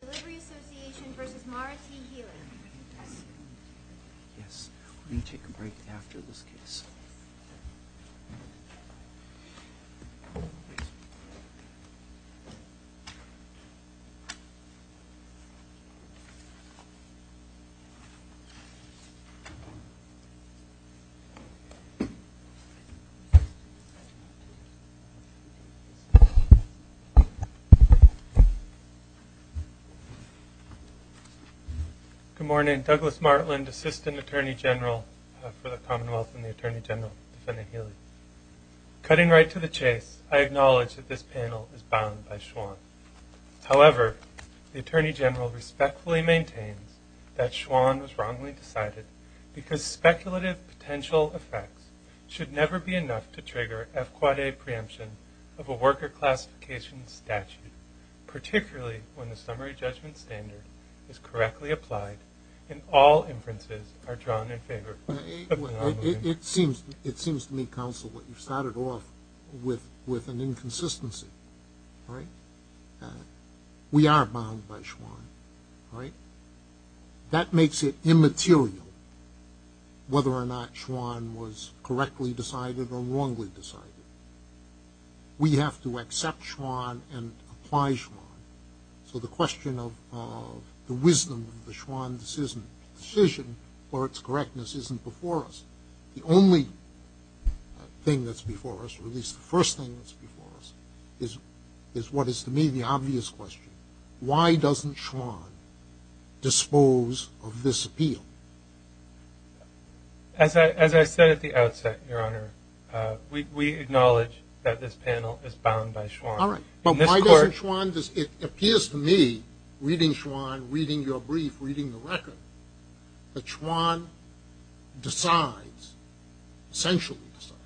Delivery Association v. Mara T. Healey Good morning. Douglas Martland, Assistant Attorney General for the Commonwealth and the Attorney General defending Healey. Cutting right to the chase, I acknowledge that this panel is bound by Schwann. However, the Attorney General respectfully maintains that Schwann was wrongly decided because speculative potential effects should never be enough to trigger F-Quad A preemption of a worker classification statute, particularly when the summary judgment standard is correctly applied and all inferences are drawn in favor of the anomaly. It seems to me, counsel, that you started off with an inconsistency, right? We are bound by Schwann, right? That makes it immaterial whether or not Schwann was correctly decided or wrongly decided. We have to accept Schwann and apply Schwann. So the question of the wisdom of the Schwann decision or its correctness isn't before us. The only thing that's before us, or at least the first thing that's before us, is what is to me the obvious question. Why doesn't Schwann dispose of this appeal? As I said at the outset, Your Honor, we acknowledge that this panel is bound by Schwann. All right. But why doesn't Schwann? It appears to me, reading Schwann, reading your brief, reading the record, that Schwann decides, essentially decides,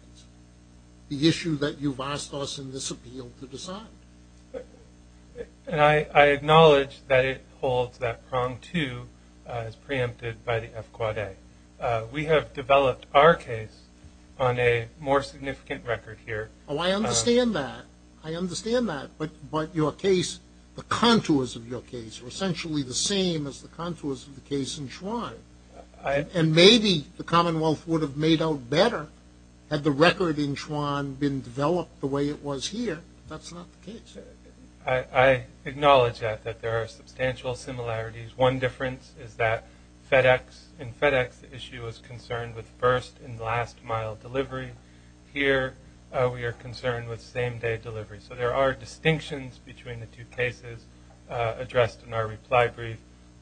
the issue that you've asked us in this appeal to decide. And I acknowledge that it holds that prong, too, as preempted by the FQA. We have developed our case on a more significant record here. Oh, I understand that. I understand that. But your case, the contours of your case are essentially the same as the contours of the case in Schwann. And maybe the Commonwealth would have made out better had the record in Schwann been developed the way it was here. That's not the case. I acknowledge that, that there are substantial similarities. One difference is that in FedEx the issue is concerned with first and last mile delivery. Here we are concerned with same-day delivery. So there are distinctions between the two cases addressed in our reply brief,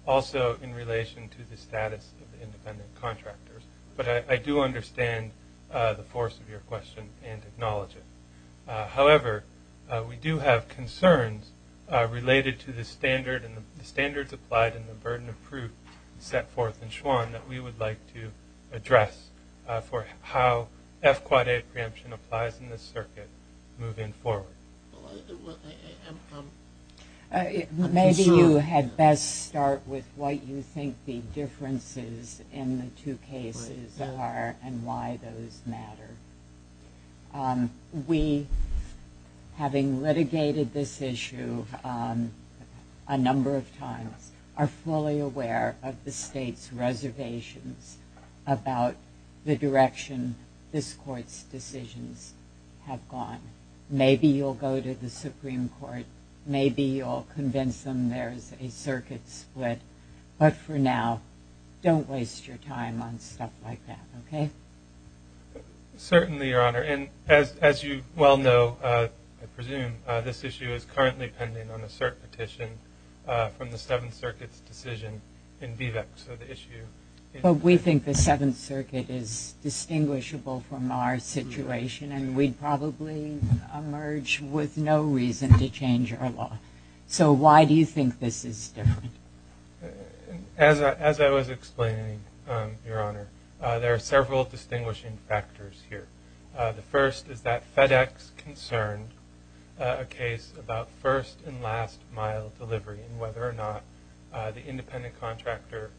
also in relation to the status of the independent contractors. But I do understand the force of your question and acknowledge it. However, we do have concerns related to the standards applied and the burden of proof set forth in Schwann that we would like to address for how FQA preemption applies in this circuit moving forward. Maybe you had best start with what you think the differences in the two cases are and why those matter. We, having litigated this issue a number of times, are fully aware of the state's reservations about the direction this court's decisions have gone. Maybe you'll go to the Supreme Court. Maybe you'll convince them there's a circuit split. But for now, don't waste your time on stuff like that, okay? Certainly, Your Honor. And as you well know, I presume, this issue is currently pending on a cert petition from the Seventh Circuit's decision in Vivec. But we think the Seventh Circuit is distinguishable from our situation and we'd probably emerge with no reason to change our law. So why do you think this is different? As I was explaining, Your Honor, there are several distinguishing factors here. The first is that FedEx concerned a case about first and last mile delivery and whether or not the independent contractor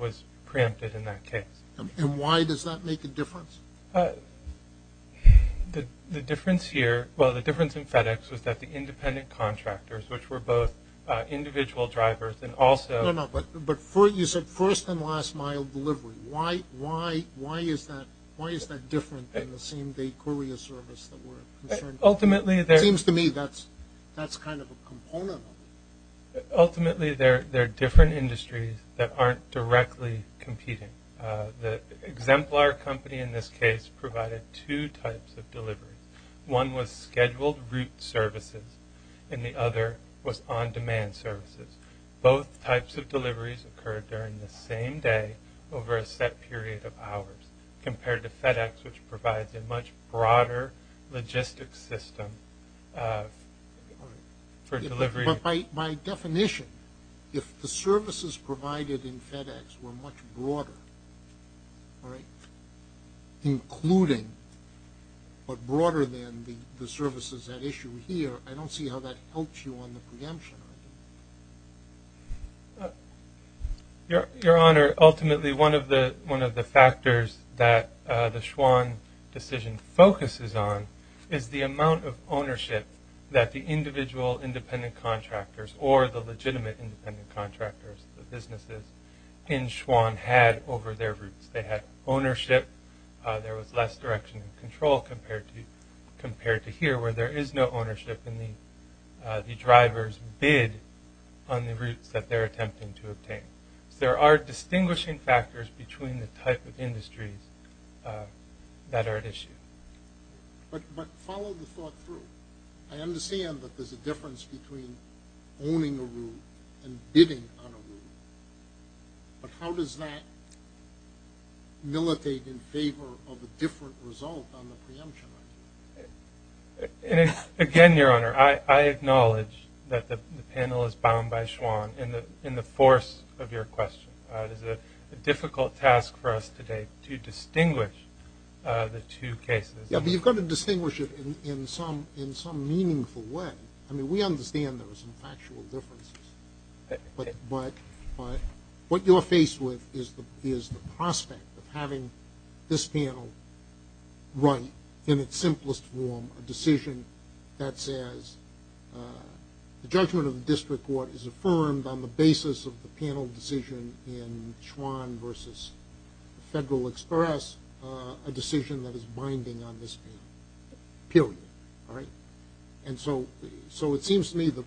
was preempted in that case. And why does that make a difference? The difference here – well, the difference in FedEx was that the independent contractors, which were both individual drivers and also – No, no, no. But you said first and last mile delivery. Why is that different than the same day courier service that we're concerned with? It seems to me that's kind of a component of it. Ultimately, they're different industries that aren't directly competing. The exemplar company in this case provided two types of delivery. One was scheduled route services and the other was on-demand services. Both types of deliveries occurred during the same day over a set period of hours compared to FedEx, which provides a much broader logistic system for delivery. But by definition, if the services provided in FedEx were much broader, including but broader than the services at issue here, I don't see how that helps you on the preemption argument. Your Honor, ultimately one of the factors that the Schwann decision focuses on is the amount of ownership that the individual independent contractors or the legitimate independent contractors, the businesses in Schwann, had over their routes. They had ownership. There was less direction and control compared to here, where there is no ownership in the driver's bid on the routes that they're attempting to obtain. So there are distinguishing factors between the type of industries that are at issue. But follow the thought through. I understand that there's a difference between owning a route and bidding on a route, but how does that militate in favor of a different result on the preemption argument? Again, Your Honor, I acknowledge that the panel is bound by Schwann in the force of your question. It is a difficult task for us today to distinguish the two cases. Yeah, but you've got to distinguish it in some meaningful way. I mean, we understand there are some factual differences, but what you're faced with is the prospect of having this panel write, in its simplest form, a decision that says the judgment of the district court is affirmed on the basis of the panel decision in Schwann versus the Federal Express, a decision that is binding on this panel, period. And so it seems to me the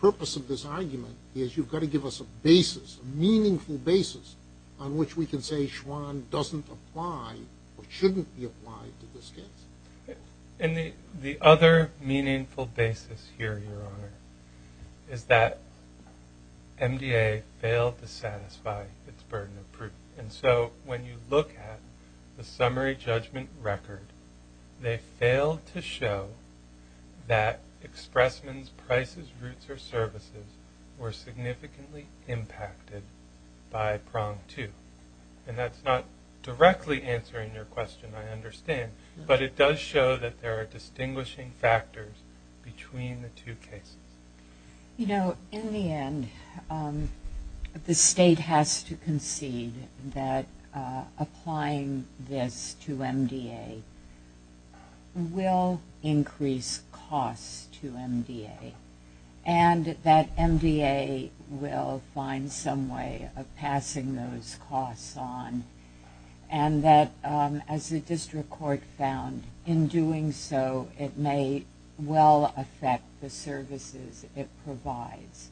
purpose of this argument is you've got to give us a basis, a meaningful basis on which we can say Schwann doesn't apply or shouldn't be applied to this case. And the other meaningful basis here, Your Honor, is that MDA failed to satisfy its burden of proof. And so when you look at the summary judgment record, they failed to show that Expressman's prices, routes, or services were significantly impacted by prong two. And that's not directly answering your question, I understand, but it does show that there are distinguishing factors between the two cases. You know, in the end, the state has to concede that applying this to MDA will increase costs to MDA and that MDA will find some way of passing those costs on and that, as the district court found, in doing so it may well affect the services it provides.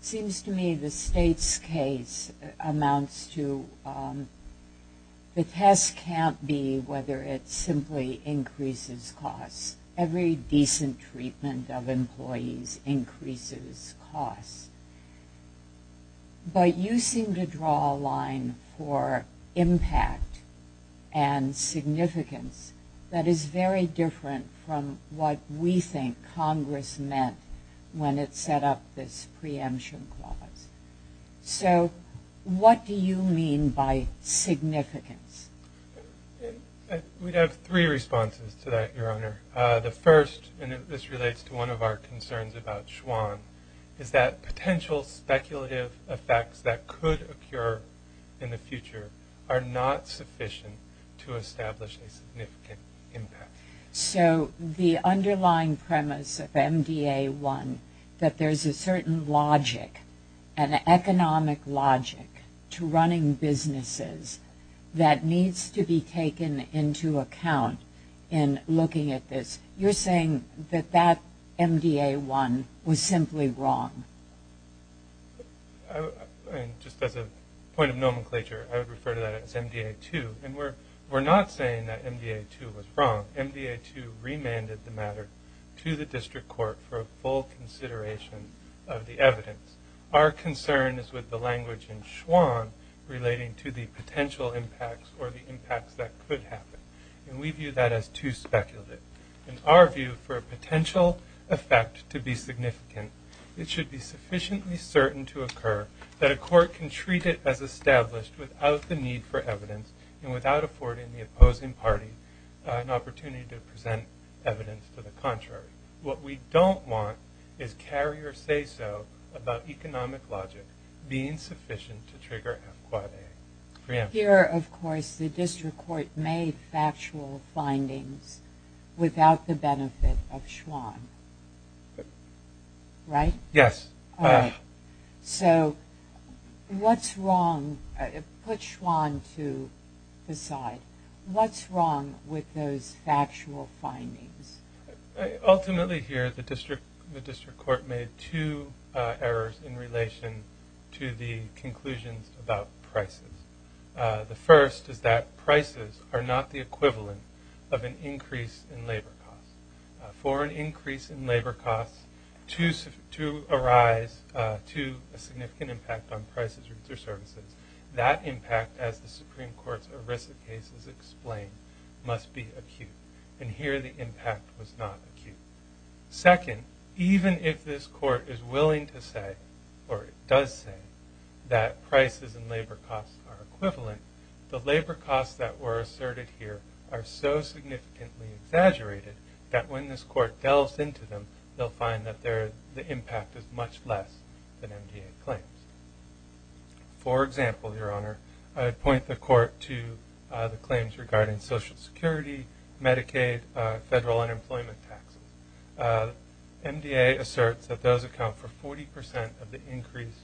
It seems to me the state's case amounts to the test can't be whether it simply increases costs. Every decent treatment of employees increases costs. But you seem to draw a line for impact and significance that is very different from what we think Congress meant when it set up this preemption clause. So what do you mean by significance? We have three responses to that, Your Honor. The first, and this relates to one of our concerns about Schwann, is that potential speculative effects that could occur in the future are not sufficient to establish a significant impact. So the underlying premise of MDA 1, that there's a certain logic, an economic logic to running businesses that needs to be taken into account in looking at this, you're saying that that MDA 1 was simply wrong. Just as a point of nomenclature, I would refer to that as MDA 2. We're not saying that MDA 2 was wrong. MDA 2 remanded the matter to the district court for a full consideration of the evidence. Our concern is with the language in Schwann relating to the potential impacts or the impacts that could happen, and we view that as too speculative. In our view, for a potential effect to be significant, it should be sufficiently certain to occur that a court can treat it as established without the need for evidence and without affording the opposing party an opportunity to present evidence to the contrary. What we don't want is carrier say-so about economic logic being sufficient to trigger a preemption. Here, of course, the district court made factual findings without the benefit of Schwann, right? Yes. All right. So what's wrong? Put Schwann to the side. What's wrong with those factual findings? Ultimately here, the district court made two errors in relation to the conclusions about prices. The first is that prices are not the equivalent of an increase in labor costs. For an increase in labor costs to arise to a significant impact on prices or services, that impact, as the Supreme Court's ERISA case has explained, must be acute. And here the impact was not acute. Second, even if this court is willing to say or does say that prices and labor costs are equivalent, the labor costs that were asserted here are so significantly exaggerated that when this court delves into them, they'll find that the impact is much less than MDA claims. For example, Your Honor, I point the court to the claims regarding Social Security, Medicaid, federal unemployment taxes. MDA asserts that those account for 40 percent of the increase,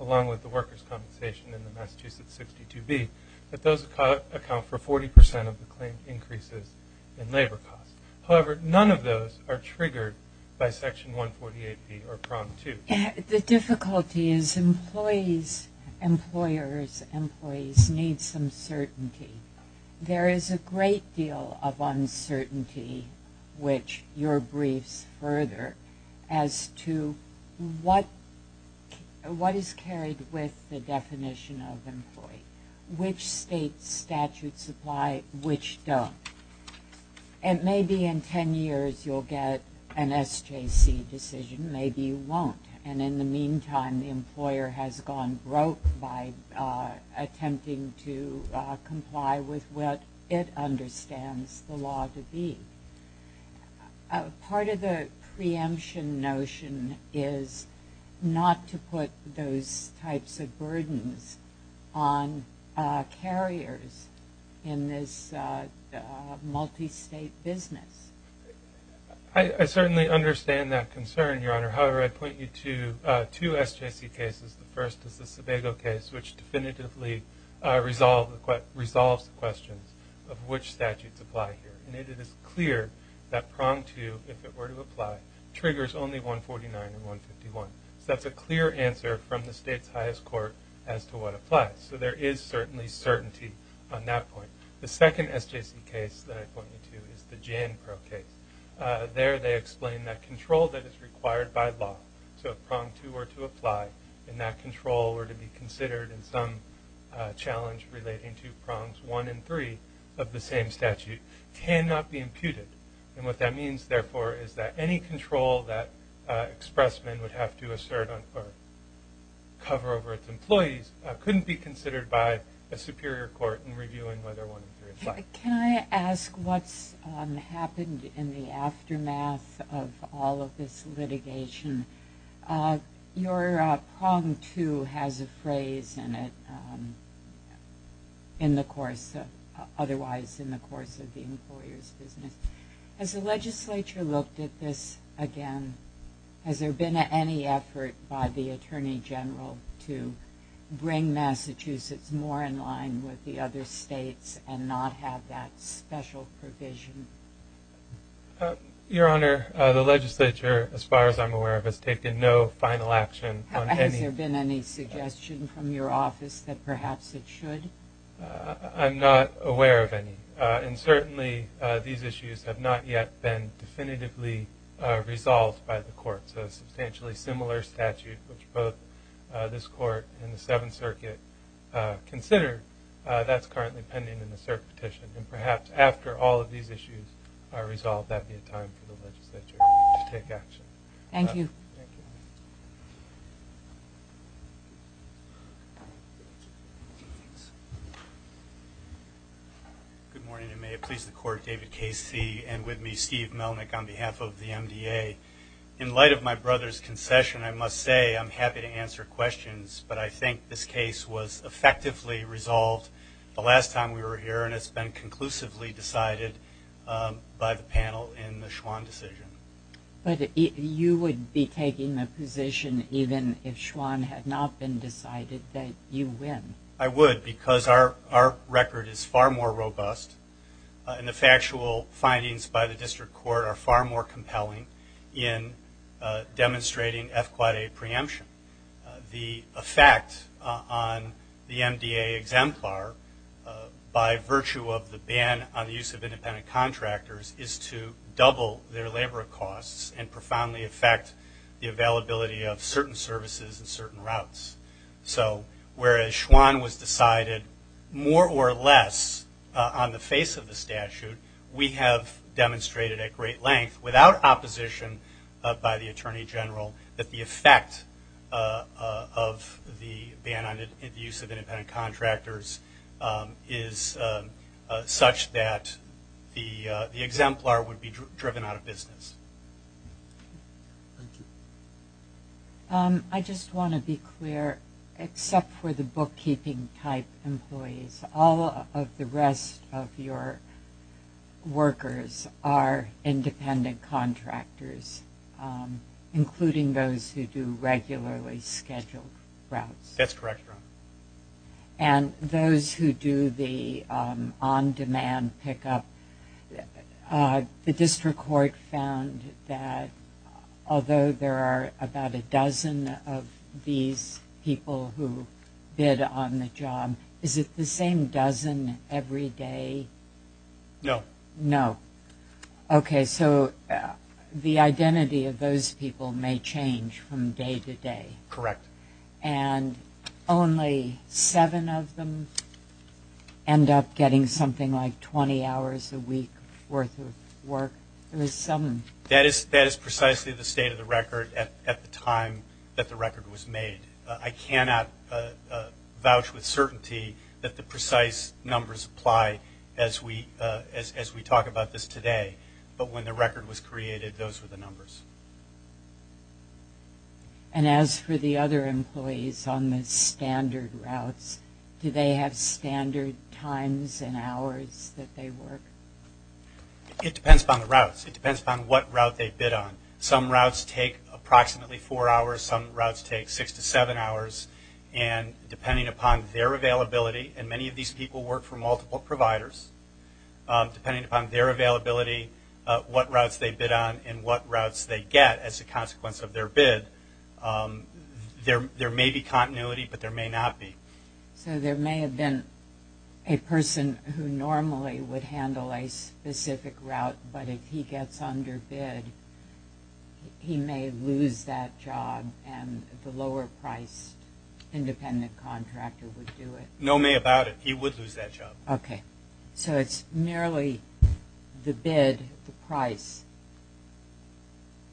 along with the workers' compensation in the Massachusetts 62B, that those account for 40 percent of the claimed increases in labor costs. However, none of those are triggered by Section 148B or Prompt 2. The difficulty is employers' employees need some certainty. There is a great deal of uncertainty, which your briefs further, as to what is carried with the definition of employee, which state statutes apply, which don't. And maybe in 10 years you'll get an SJC decision. Maybe you won't. And in the meantime, the employer has gone broke by attempting to comply with what it understands the law to be. Part of the preemption notion is not to put those types of burdens on carriers in this multistate business. I certainly understand that concern, Your Honor. However, I point you to two SJC cases. The first is the Sebago case, which definitively resolves the questions of which statutes apply here. And it is clear that Prompt 2, if it were to apply, triggers only 149 and 151. So that's a clear answer from the state's highest court as to what applies. So there is certainly certainty on that point. The second SJC case that I point you to is the Jan Pro case. There they explain that control that is required by law, so if Prompt 2 were to apply, and that control were to be considered in some challenge relating to Prompts 1 and 3 of the same statute, cannot be imputed. And what that means, therefore, is that any control that expressmen would have to assert or cover over its employees couldn't be considered by a superior court in reviewing whether 1 and 3 apply. Can I ask what's happened in the aftermath of all of this litigation? Your Prompt 2 has a phrase in it, otherwise in the course of the employer's business. Has the legislature looked at this again? Has there been any effort by the Attorney General to bring Massachusetts more in line with the other states and not have that special provision? Your Honor, the legislature, as far as I'm aware of, has taken no final action on any of this. Has there been any suggestion from your office that perhaps it should? I'm not aware of any. And certainly these issues have not yet been definitively resolved by the court. So a substantially similar statute, which both this court and the Seventh Circuit consider, that's currently pending in the cert petition. And perhaps after all of these issues are resolved, that would be a time for the legislature to take action. Thank you. Thank you. Good morning. And may it please the Court, David Casey and with me Steve Melnick on behalf of the MDA. In light of my brother's concession, I must say I'm happy to answer questions, but I think this case was effectively resolved the last time we were here and it's been conclusively decided by the panel in the Schwann decision. But you would be taking the position even if Schwann had not been decided that you win? I would because our record is far more robust and the factual findings by the district court are far more compelling in demonstrating F-Quad A preemption. The effect on the MDA exemplar by virtue of the ban on the use of independent contractors is to double their labor costs and profoundly affect the availability of certain services and certain routes. So whereas Schwann was decided more or less on the face of the statute, we have demonstrated at great length without opposition by the Attorney General that the effect of the ban on the use of independent contractors is such that the exemplar would be driven out of business. Thank you. I just want to be clear, except for the bookkeeping type employees, all of the rest of your workers are independent contractors, including those who do regularly scheduled routes. That's correct, Your Honor. And those who do the on-demand pickup, the district court found that although there are about a dozen of these people who bid on the job, is it the same dozen every day? No. No. Okay, so the identity of those people may change from day to day. Correct. And only seven of them end up getting something like 20 hours a week worth of work. That is precisely the state of the record at the time that the record was made. I cannot vouch with certainty that the precise numbers apply as we talk about this today. But when the record was created, those were the numbers. And as for the other employees on the standard routes, do they have standard times and hours that they work? It depends upon the routes. It depends upon what route they bid on. Some routes take approximately four hours. Some routes take six to seven hours. And depending upon their availability, and many of these people work for multiple providers, depending upon their availability, what routes they bid on and what routes they get as a consequence of their bid, there may be continuity but there may not be. So there may have been a person who normally would handle a specific route, but if he gets underbid, he may lose that job and the lower-priced independent contractor would do it. No may about it. He would lose that job. Okay. So it's merely the bid, the price.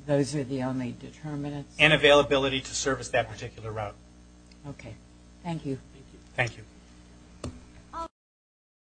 Those are the only determinants? And availability to service that particular route. Okay. Thank you. Thank you.